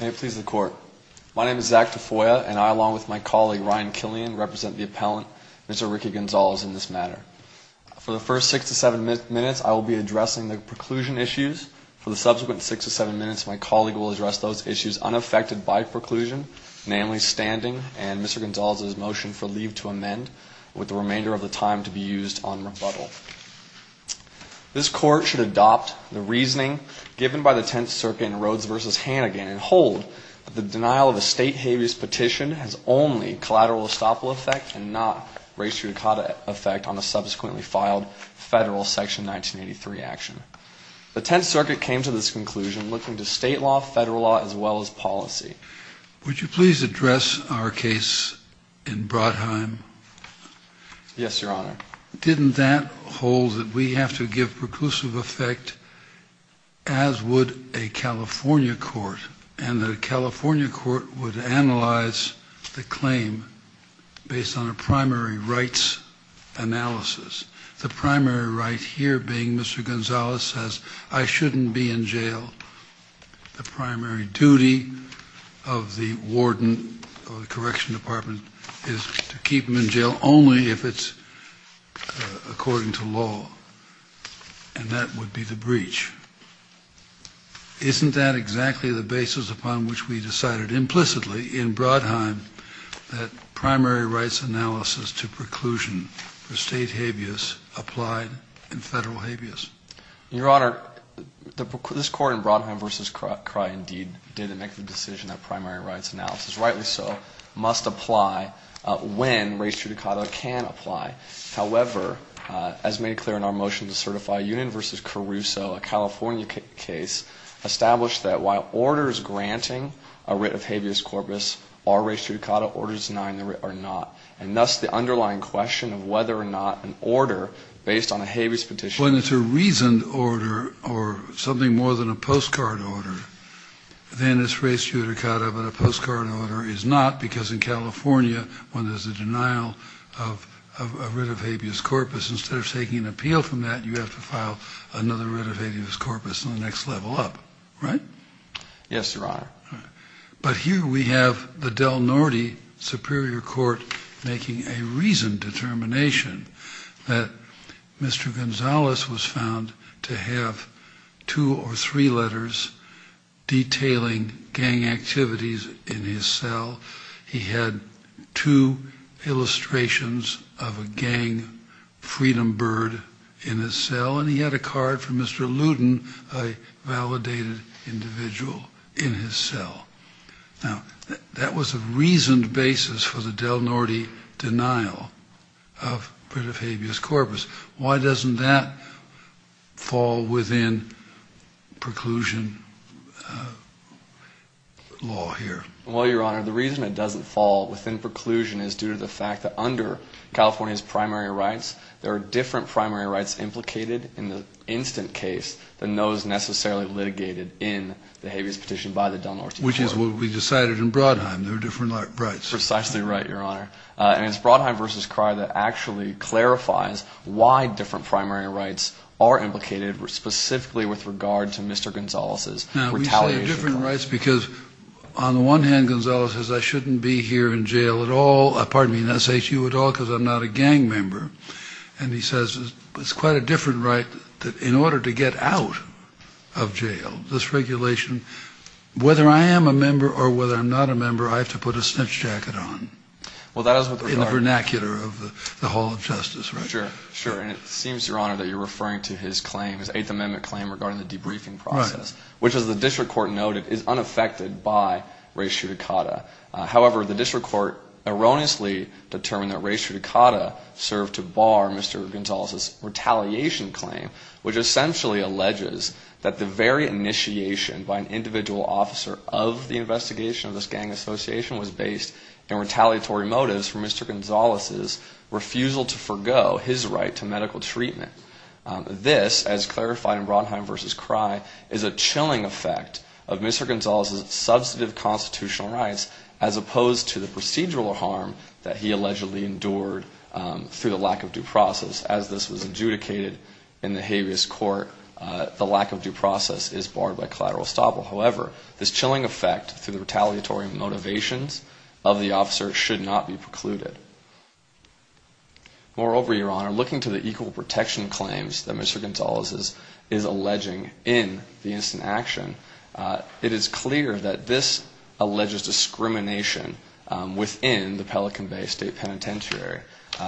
May it please the court. My name is Zach Tafoya and I, along with my colleague Ryan Killian, represent the appellant, Mr. Ricky Gonzales, in this matter. For the first six to seven minutes, I will be addressing the preclusion issues. For the subsequent six to seven minutes, my colleague will address those issues unaffected by preclusion, namely standing and Mr. Gonzales' motion for leave to amend, with the remainder of the time to be used on rebuttal. This court should adopt the reasoning given by the Tenth Circuit in Rhodes v. Hannigan and hold that the denial of a state habeas petition has only collateral estoppel effect and not res judicata effect on the subsequently filed federal section 1983 action. The Tenth Circuit came to this conclusion looking to state law, federal law, as well as policy. Would you please address our case in Brodheim? Yes, Your Honor. Didn't that hold that we have to give preclusive effect, as would a California court, and the California court would analyze the claim based on a primary rights analysis, the primary right here being Mr. Gonzales says, I shouldn't be in jail. The primary duty of the warden of the correction department is to keep him in jail only if it's according to law, and that would be the breach. Isn't that exactly the basis upon which we decided implicitly in Brodheim that primary rights analysis to preclusion for state habeas applied in federal habeas? Your Honor, this court in Brodheim v. Crye indeed did make the decision that primary rights analysis, rightly so, must apply when res judicata can apply. However, as made clear in our motion to certify, Union v. Caruso, a California case, established that while orders granting a writ of habeas corpus are res judicata, orders denying the writ are not. And thus the underlying question of whether or not an order based on a habeas petition... ...instead of taking an appeal from that, you have to file another writ of habeas corpus on the next level up, right? Yes, Your Honor. But here we have the Del Norte Superior Court making a reasoned determination that Mr. Gonzalez was found to have two or three letters detailing gang activities in his cell. He had two illustrations of a gang freedom bird in his cell, and he had a card from Mr. Luton, a validated individual, in his cell. Now, that was a reasoned basis for the Del Norte denial of writ of habeas corpus. Why doesn't that fall within preclusion law here? Well, Your Honor, the reason it doesn't fall within preclusion is due to the fact that under California's primary rights, there are different primary rights implicated in the instant case than those necessarily litigated in the habeas petition by the Del Norte Superior Court. Which is what we decided in Brodheim. There are different rights. Precisely right, Your Honor. And it's Brodheim v. Cryer that actually clarifies why different primary rights are implicated, specifically with regard to Mr. Gonzalez's retaliation claim. Now, we say different rights because, on the one hand, Gonzalez says, I shouldn't be here in jail at all, pardon me, in SHU at all because I'm not a gang member. And he says it's quite a different right that in order to get out of jail, this regulation, whether I am a member or whether I'm not a member, I have to put a snitch jacket on. Well, that is with regard to... In the vernacular of the Hall of Justice, right? Sure, sure. And it seems, Your Honor, that you're referring to his claim, his Eighth Amendment claim regarding the debriefing process. Which, as the district court noted, is unaffected by res judicata. However, the district court erroneously determined that res judicata served to bar Mr. Gonzalez's retaliation claim. Which essentially alleges that the very initiation by an individual officer of the investigation of this gang association was based in retaliatory motives for Mr. Gonzalez's refusal to forego his right to medical treatment. This, as clarified in Brodheim v. Crye, is a chilling effect of Mr. Gonzalez's substantive constitutional rights as opposed to the procedural harm that he allegedly endured through the lack of due process. As this was adjudicated in the habeas court, the lack of due process is barred by collateral estoppel. However, this chilling effect through the retaliatory motivations of the officer should not be precluded. Moreover, Your Honor, looking to the equal protection claims that Mr. Gonzalez is alleging in the instant action, it is clear that this alleges discrimination within the Pelican Bay State Penitentiary.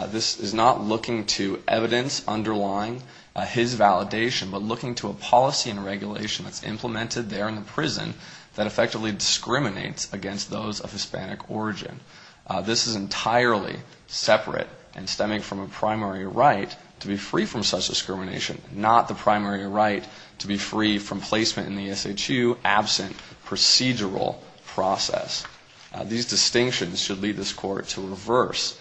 This is not looking to evidence underlying his validation, but looking to a policy and regulation that's implemented there in the prison that effectively discriminates against those of Hispanic origin. This is entirely separate and stemming from a primary right to be free from such discrimination, not the primary right to be free from placement in the SHU absent procedural process. These distinctions should lead this court to reverse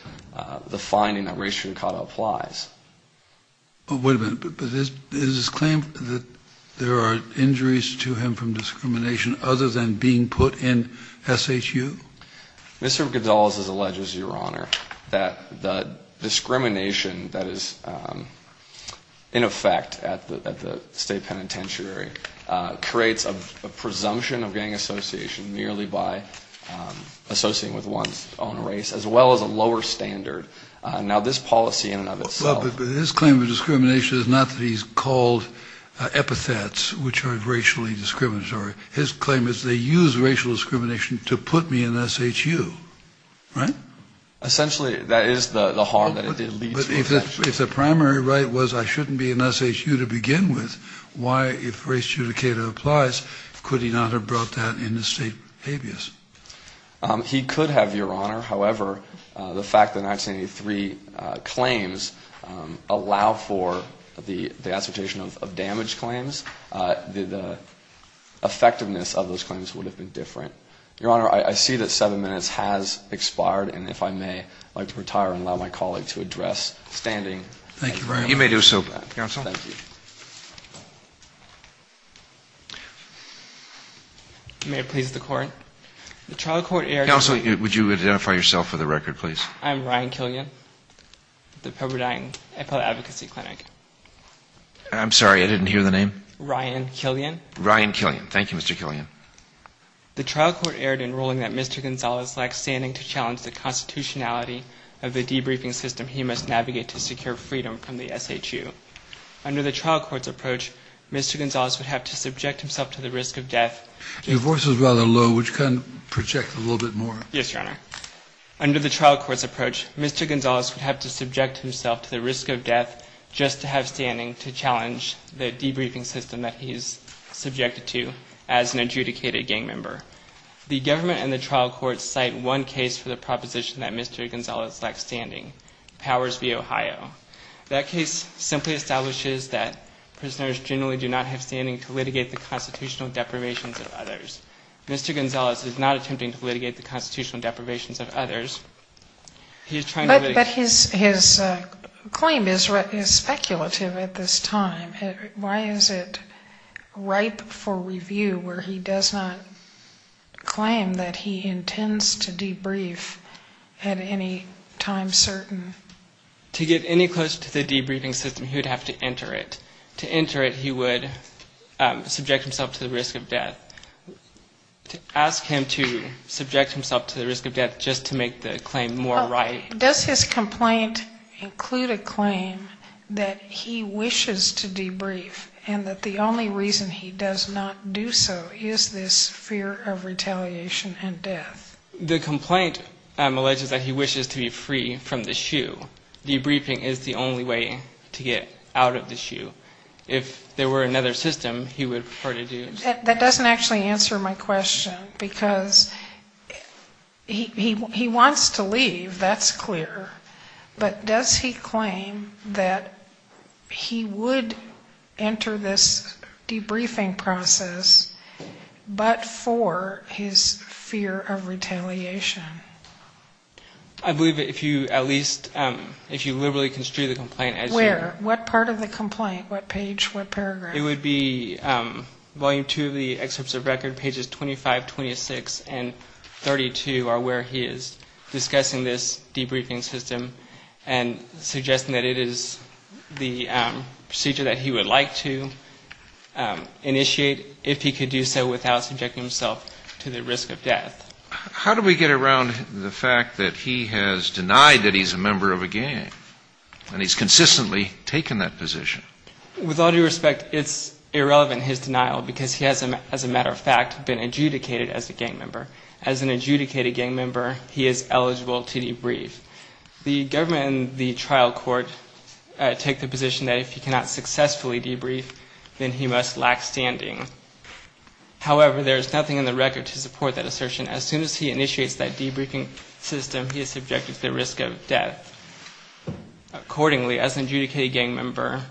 the finding that race judicata applies. Wait a minute, but is this claim that there are injuries to him from discrimination other than being put in SHU? Mr. Gonzalez has alleged, Your Honor, that the discrimination that is in effect at the State Penitentiary creates a presumption of gang association merely by associating with one's own race, as well as a lower standard. Now, this policy in and of itself... Well, but his claim of discrimination is not that he's called epithets, which are racially discriminatory. His claim is they use racial discrimination to put me in SHU, right? Essentially, that is the harm that it leads to. But if the primary right was I shouldn't be in SHU to begin with, why, if race judicata applies, could he not have brought that into state habeas? He could have, Your Honor. However, the fact that 1983 claims allow for the assertion of damage claims, the effectiveness of those claims would have been different. Your Honor, I see that seven minutes has expired, and if I may, I'd like to retire and allow my colleague to address standing. Thank you, Brian. You may do so, counsel. Thank you. May it please the Court. The trial court erred... Counsel, would you identify yourself for the record, please? I'm Ryan Killian, with the Pepperdine Appellate Advocacy Clinic. I'm sorry, I didn't hear the name. Ryan Killian. Ryan Killian. Thank you, Mr. Killian. The trial court erred in ruling that Mr. Gonzalez lacked standing to challenge the constitutionality of the debriefing system he must navigate to secure freedom from the SHU. Under the trial court's approach, Mr. Gonzalez would have to subject himself to the risk of death... Your voice is rather low. Would you kind of project a little bit more? Yes, Your Honor. Under the trial court's approach, Mr. Gonzalez would have to subject himself to the risk of death just to have standing to challenge the debriefing system that he is subjected to as an adjudicated gang member. The government and the trial court cite one case for the proposition that Mr. Gonzalez lacked standing, Powers v. Ohio. That case simply establishes that prisoners generally do not have standing to litigate the constitutional deprivations of others. Mr. Gonzalez is not attempting to litigate the constitutional deprivations of others. He is trying to... But his claim is speculative at this time. Why is it ripe for review where he does not claim that he intends to debrief at any time certain? To get any closer to the debriefing system, he would have to enter it. To enter it, he would subject himself to the risk of death. To ask him to subject himself to the risk of death just to make the claim more ripe... Does his complaint include a claim that he wishes to debrief and that the only reason he does not do so is this fear of retaliation and death? The complaint alleges that he wishes to be free from the shoe. Debriefing is the only way to get out of the shoe. If there were another system, he would prefer to do... That doesn't actually answer my question because he wants to leave, that's clear. But does he claim that he would enter this debriefing process but for his fear of retaliation? I believe if you at least... If you literally construe the complaint as... Where? What part of the complaint? What page? What paragraph? It would be volume two of the excerpts of record, pages 25, 26 and 32 are where he is discussing this debriefing system and suggesting that it is the procedure that he would like to initiate if he could do so without subjecting himself to the risk of death. How do we get around the fact that he has denied that he's a member of a gang and he's consistently taken that position? With all due respect, it's irrelevant, his denial, because he has, as a matter of fact, been adjudicated as a gang member. As an adjudicated gang member, he is eligible to debrief. The government and the trial court take the position that if he cannot successfully debrief, then he must lack standing. However, there is nothing in the record to support that assertion. As soon as he initiates that debriefing system, he is subjected to the risk of death. Accordingly, as an adjudicated gang member,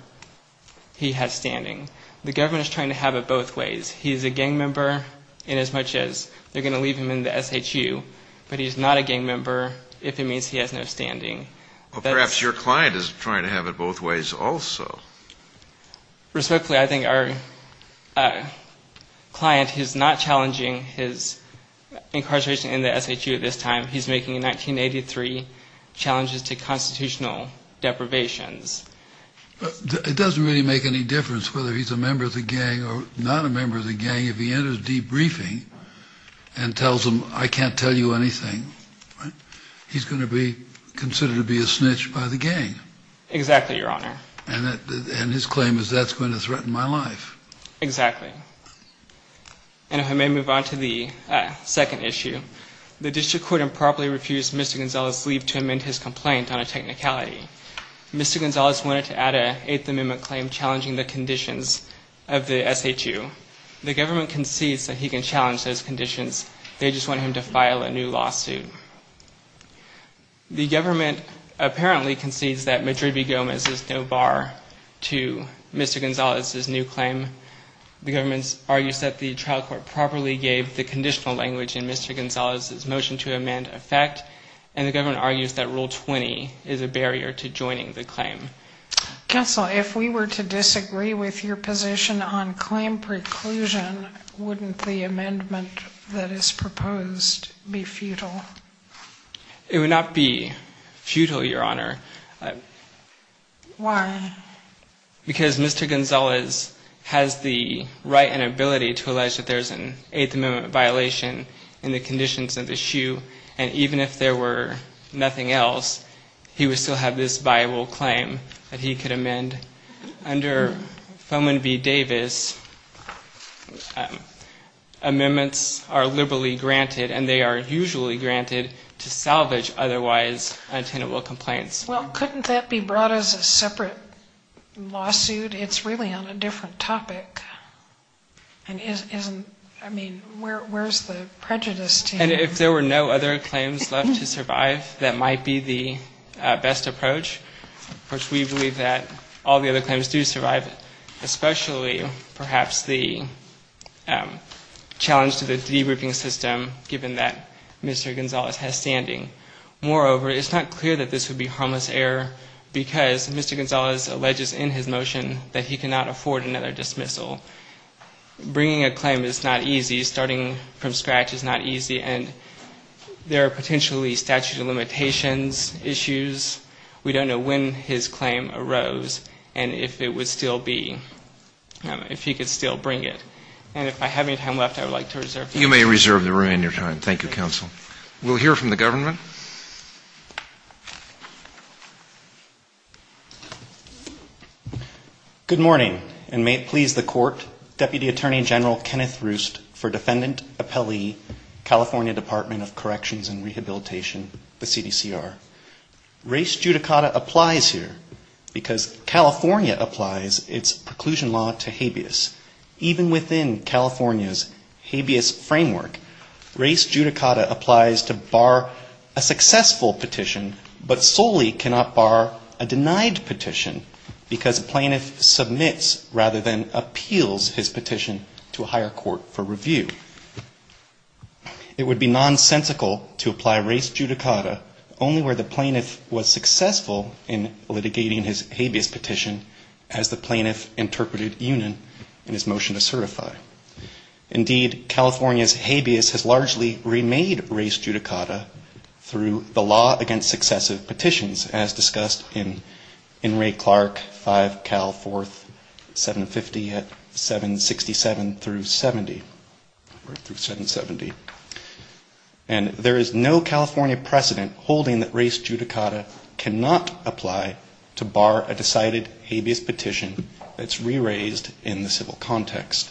he has standing. The government is trying to have it both ways. He's a gang member inasmuch as they're going to leave him in the SHU, but he's not a gang member if it means he has no standing. Well, perhaps your client is trying to have it both ways also. Respectfully, I think our client is not challenging his incarceration in the SHU at this time. He's making 1983 challenges to constitutional deprivations. It doesn't really make any difference whether he's a member of the gang or not a member of the gang. If he enters debriefing and tells them, I can't tell you anything, he's going to be considered to be a snitch by the gang. Exactly, Your Honor. And his claim is that's going to threaten my life. Exactly. And if I may move on to the second issue. The district court improperly refused Mr. Gonzalez's leave to amend his complaint on a technicality. Mr. Gonzalez wanted to add an Eighth Amendment claim challenging the conditions of the SHU. The government concedes that he can challenge those conditions. They just want him to file a new lawsuit. The government apparently concedes that Madrid v. Gomez is no bar to Mr. Gonzalez's new claim. The government argues that the trial court properly gave the conditional language in Mr. Gonzalez's motion to amend effect. And the government argues that Rule 20 is a barrier to joining the claim. Counsel, if we were to disagree with your position on claim preclusion, wouldn't the amendment that is proposed be futile? It would not be futile, Your Honor. Why? Because Mr. Gonzalez has the right and ability to allege that there's an Eighth Amendment violation in the conditions of the SHU. And even if there were nothing else, he would still have this viable claim that he could amend. Under Foman v. Davis, amendments are liberally granted, and they are usually granted to salvage otherwise unattainable complaints. Well, couldn't that be brought as a separate lawsuit? It's really on a different topic. And isn't, I mean, where's the prejudice to you? And if there were no other claims left to survive, that might be the best approach. Of course, we believe that all the other claims do survive, especially perhaps the challenge to the debriefing system, given that Mr. Gonzalez has standing. Moreover, it's not clear that this would be harmless error, because Mr. Gonzalez alleges in his motion that he cannot afford another dismissal. Bringing a claim is not easy. Starting from scratch is not easy. And there are potentially statute of limitations issues. We don't know when his claim arose and if it would still be, if he could still bring it. And if I have any time left, I would like to reserve that. You may reserve the remainder of your time. Thank you, counsel. We'll hear from the government. Good morning. And may it please the court, Deputy Attorney General Kenneth Roost for Defendant Appellee, California Department of Corrections and Rehabilitation, the CDCR. Race judicata applies here, because California applies its preclusion law to habeas. Even within California's habeas framework, race judicata applies to bar a successful petition, but solely cannot bar a denied petition, because a plaintiff submits rather than appeals his petition to a higher court for review. It would be nonsensical to apply race judicata only where the plaintiff was successful in litigating his habeas petition, as the plaintiff interpreted Union in his motion to certify. Indeed, California's habeas has largely remade race judicata through the law against successive petitions, as discussed in Ray Clark 5 Cal 4, 750 at 767 through 70. And there is no California precedent holding that race judicata cannot apply to bar a decided habeas petition that's re-raised in the civil context.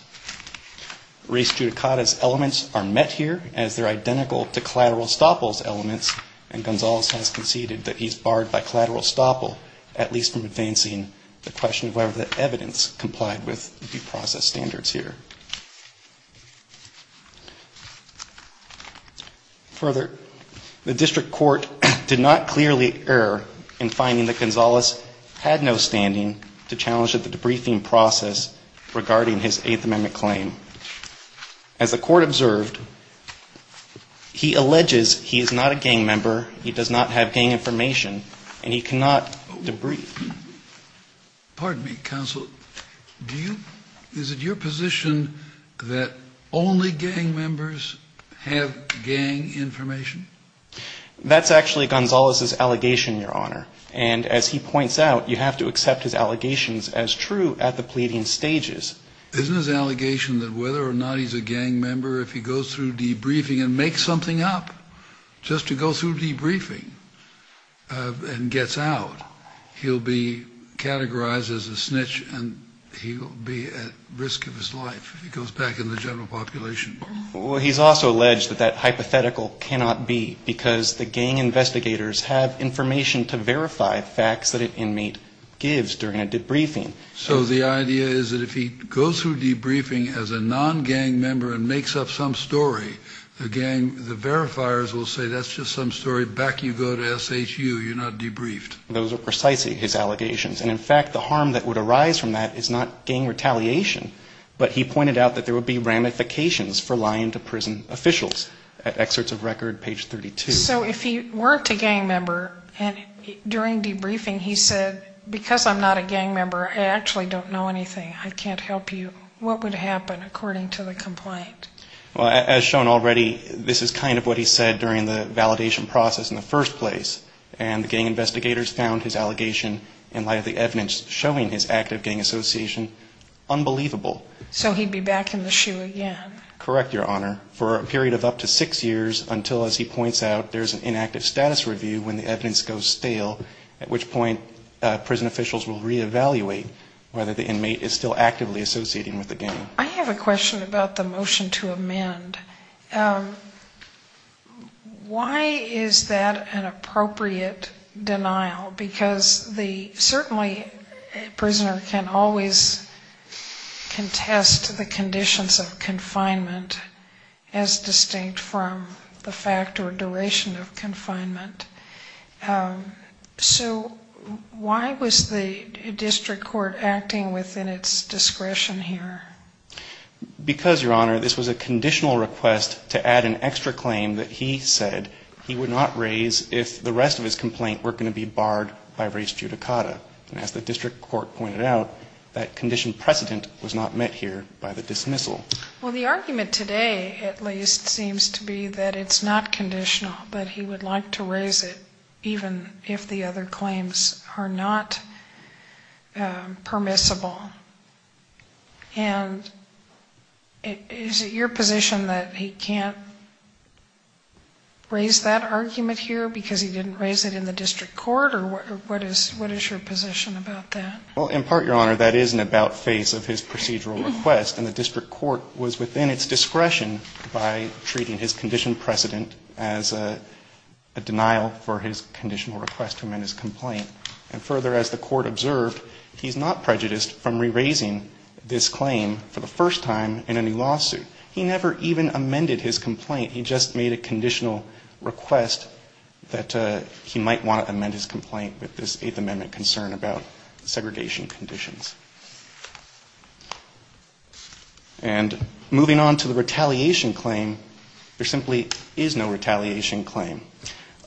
Race judicata's elements are met here, as they're identical to collateral estoppel's elements, and Gonzalez has conceded that he's barred by collateral estoppel, at least from advancing the question of whether the evidence complied with due process standards here. Further, the district court did not clearly err in finding that Gonzalez had no standing to challenge the debriefing process regarding his Eighth Amendment claim. As the court observed, he alleges he is not a gang member, he does not have gang information, and he cannot debrief. Pardon me, counsel, do you, is it your position that only gang members have gang information? That's actually Gonzalez's allegation, Your Honor, and as he points out, you have to accept his allegations as true at the pleading stages. Isn't his allegation that whether or not he's a gang member, if he goes through debriefing and makes something up, just to go through debriefing and gets out, he'll be a gang member? He'll be categorized as a snitch, and he'll be at risk of his life if he goes back in the general population. Well, he's also alleged that that hypothetical cannot be, because the gang investigators have information to verify facts that an inmate gives during a debriefing. So the idea is that if he goes through debriefing as a non-gang member and makes up some story, the gang, the verifiers will say that's just some story, back you go to SHU, you're not debriefed. Those are precisely his allegations, and in fact, the harm that would arise from that is not gang retaliation, but he pointed out that there would be ramifications for lying to prison officials. Excerpts of record, page 32. So if he weren't a gang member and during debriefing he said, because I'm not a gang member, I actually don't know anything, I can't help you, what would happen according to the complaint? Well, as shown already, this is kind of what he said during the validation process in the first place, and gang investigators found his allegation in light of the evidence showing his active gang association unbelievable. So he'd be back in the SHU again? Correct, Your Honor, for a period of up to six years until, as he points out, there's an inactive status review when the evidence goes stale, at which point prison officials will reevaluate whether the inmate is still actively associating with the gang. I have a question about the motion to amend. Why is that an appropriate denial? Because certainly a prisoner can always contest the conditions of confinement as distinct from the fact or duration of confinement. So why was the district court acting within its discretion here? Because, Your Honor, this was a conditional request to add an extra claim that he said he would not raise if the rest of his complaint were going to be barred by res judicata. And as the district court pointed out, that condition precedent was not met here by the dismissal. Well, the argument today at least seems to be that it's not conditional, that he would like to raise it even if the other claims are not permissible. And is it your position that he can't raise that argument here because he didn't raise it in the district court, or what is your position about that? Well, in part, Your Honor, that is an about face of his procedural request, and the district court was within its discretion by treating his condition precedent as a denial for his conditional request to amend his complaint. And further, as the court observed, he's not prejudiced from re-raising this claim for the first time in any lawsuit. He never even amended his complaint. He just made a conditional request that he might want to amend his complaint with this Eighth Amendment concern about segregation conditions. And moving on to the retaliation claim, there simply is no retaliation claim.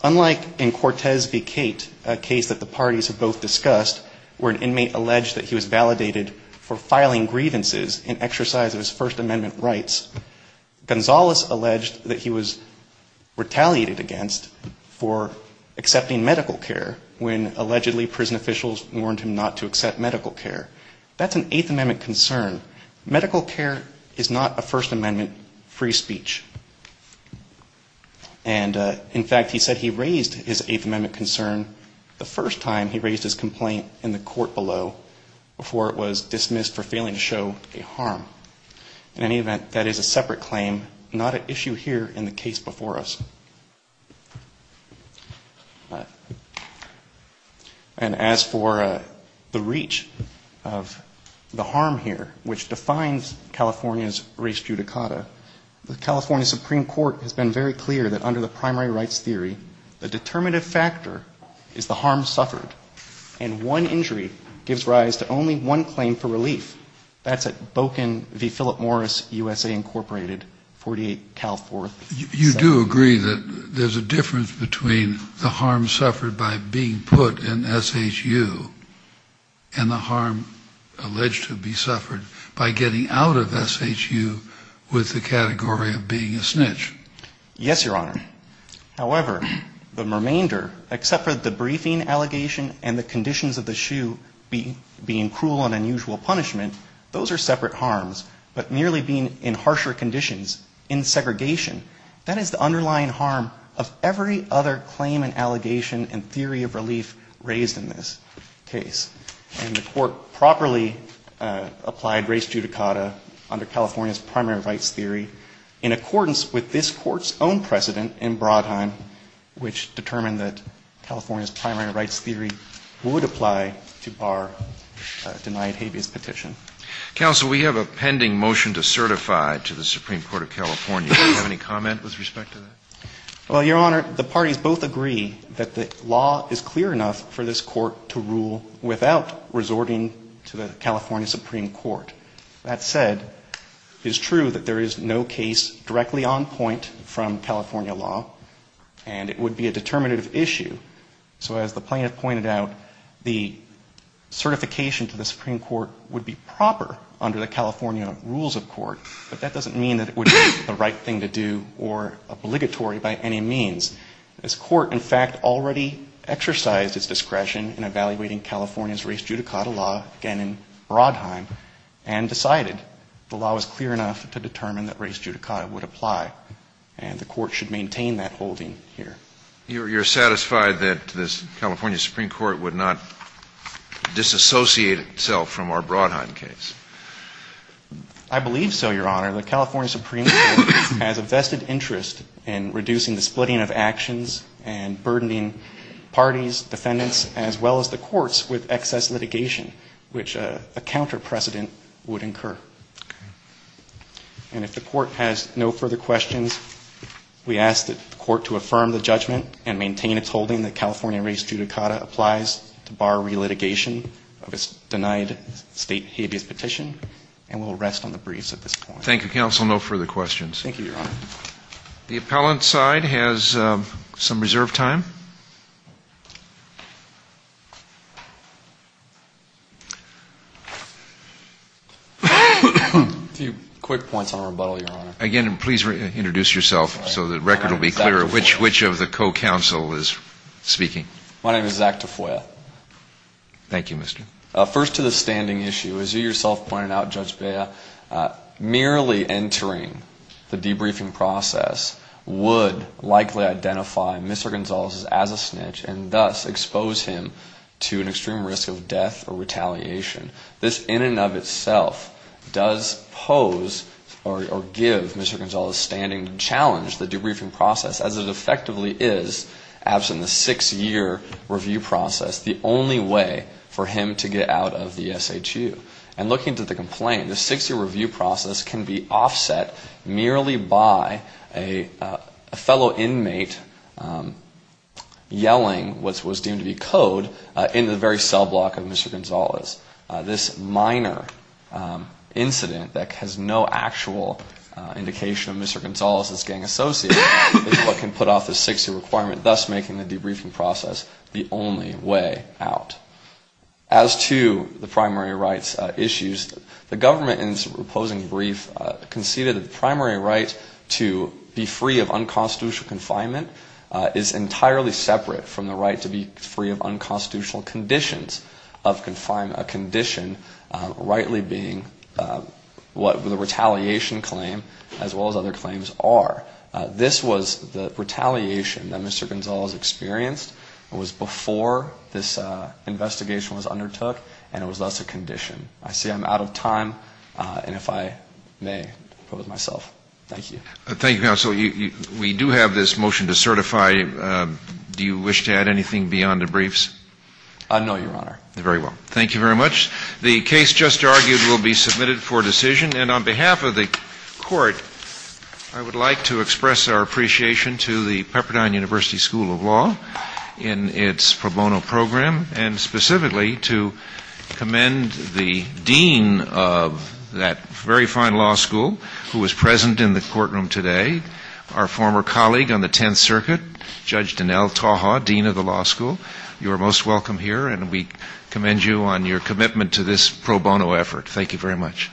Unlike in Cortez v. Cate, a case that the parties have both discussed, where an inmate alleged that he was validated for filing grievances in exercise of his First Amendment rights, Gonzales alleged that he was retaliated against for accepting medical care when allegedly prison officials warned him not to accept medical care. That's an Eighth Amendment concern. Medical care is not a First Amendment free speech. And in fact, he said he raised his Eighth Amendment concern the first time he raised his complaint in the court below before it was dismissed for failing to show a harm. In any event, that is a separate claim, not an issue here in the case before us. And as for the reach of the harm here, which defines California's res judicata, the California Supreme Court has been very clear that under the primary rights theory, the determinative factor is the harm suffered. And one injury gives rise to only one claim for relief. That's a boken determination. And that's why I'm here today. I'm here to talk to you about the harm suffered by being put in S.H.U. and the harm alleged to be suffered by getting out of S.H.U. with the category of being a snitch. Yes, Your Honor. However, the remainder, except for the briefing allegation and the conditions of the shoe being cruel and unusual punishment, those are separate harms. But merely being in harsher conditions, in segregation, that is the underlying harm of every other claim and allegation and theory of relief raised in this case. And the court properly applied res judicata under California's primary rights theory in accordance with this court's own precedent in Brodheim, which determined that California's primary rights theory would apply to Barr denied habeas petition. Counsel, we have a pending motion to certify to the Supreme Court of California. Do you have any comment with respect to that? Well, Your Honor, the parties both agree that the law is clear enough for this court to rule without resorting to the California Supreme Court. That said, it's true that there is no case directly on point from California law, and it would be a determinative issue. So as the plaintiff pointed out, the certification to the Supreme Court would be proper under the California rules of court, but that doesn't mean that it would be the right thing to do or obligatory by any means. This court, in fact, already exercised its discretion in evaluating California's res judicata law, again in Brodheim, and decided the law was clear enough to determine that res judicata would apply, and the court should maintain that holding here. You're satisfied that the California Supreme Court would not disassociate itself from our Brodheim case? I believe so, Your Honor. The California Supreme Court has a vested interest in reducing the splitting of actions and burdening parties, defendants, as well as the courts, with excess litigation, which a counter precedent would incur. And if the court has no further questions, we ask that the court to affirm the judgment and maintain its holding that California res judicata applies to bar relitigation of its denied state habeas petition, and we'll rest on the briefs at this point. Thank you, counsel. No further questions. The appellant side has some reserved time. A few quick points on rebuttal, Your Honor. Again, please introduce yourself so the record will be clear of which of the co-counsel is speaking. My name is Zach Tafoya. First to the standing issue. As you yourself pointed out, Judge Bea, merely entering the debriefing process would likely identify Mr. Gonzalez as a snitch, and thus expose him to an extreme risk of death or retaliation. This in and of itself does pose or give Mr. Gonzalez's standing challenge, the debriefing process, as it effectively is absent the six-year review process, the only way for him to get out of the SHU. And looking to the complaint, the six-year review process can be offset merely by a fellow inmate yelling what was deemed to be code in the very cell block of Mr. Gonzalez. This minor incident that has no actual indication of Mr. Gonzalez's gang association is what can put off the six-year requirement, thus making the debriefing process the only way out. As to the primary rights issues, the government in its opposing brief conceded that the primary right to be free of unconstitutional confinement is entirely separate from the right to be free of unconstitutional conditions of confinement. This was the retaliation that Mr. Gonzalez experienced. It was before this investigation was undertook, and it was thus a condition. I see I'm out of time, and if I may, I'll go with myself. Thank you. Thank you, counsel. We do have this motion to certify. Do you wish to add anything beyond debriefs? No, Your Honor. Very well. Thank you very much. The case just argued will be submitted for decision, and on behalf of the court, I would like to express our appreciation to the Pepperdine University School of Law in its pro bono program, and specifically to commend the dean of that very fine law school who was present in the courtroom today, our former colleague on the Tenth Circuit, Judge Donnell Taha, dean of the law school. You are most welcome here. And we commend you on your commitment to this pro bono effort. Thank you very much.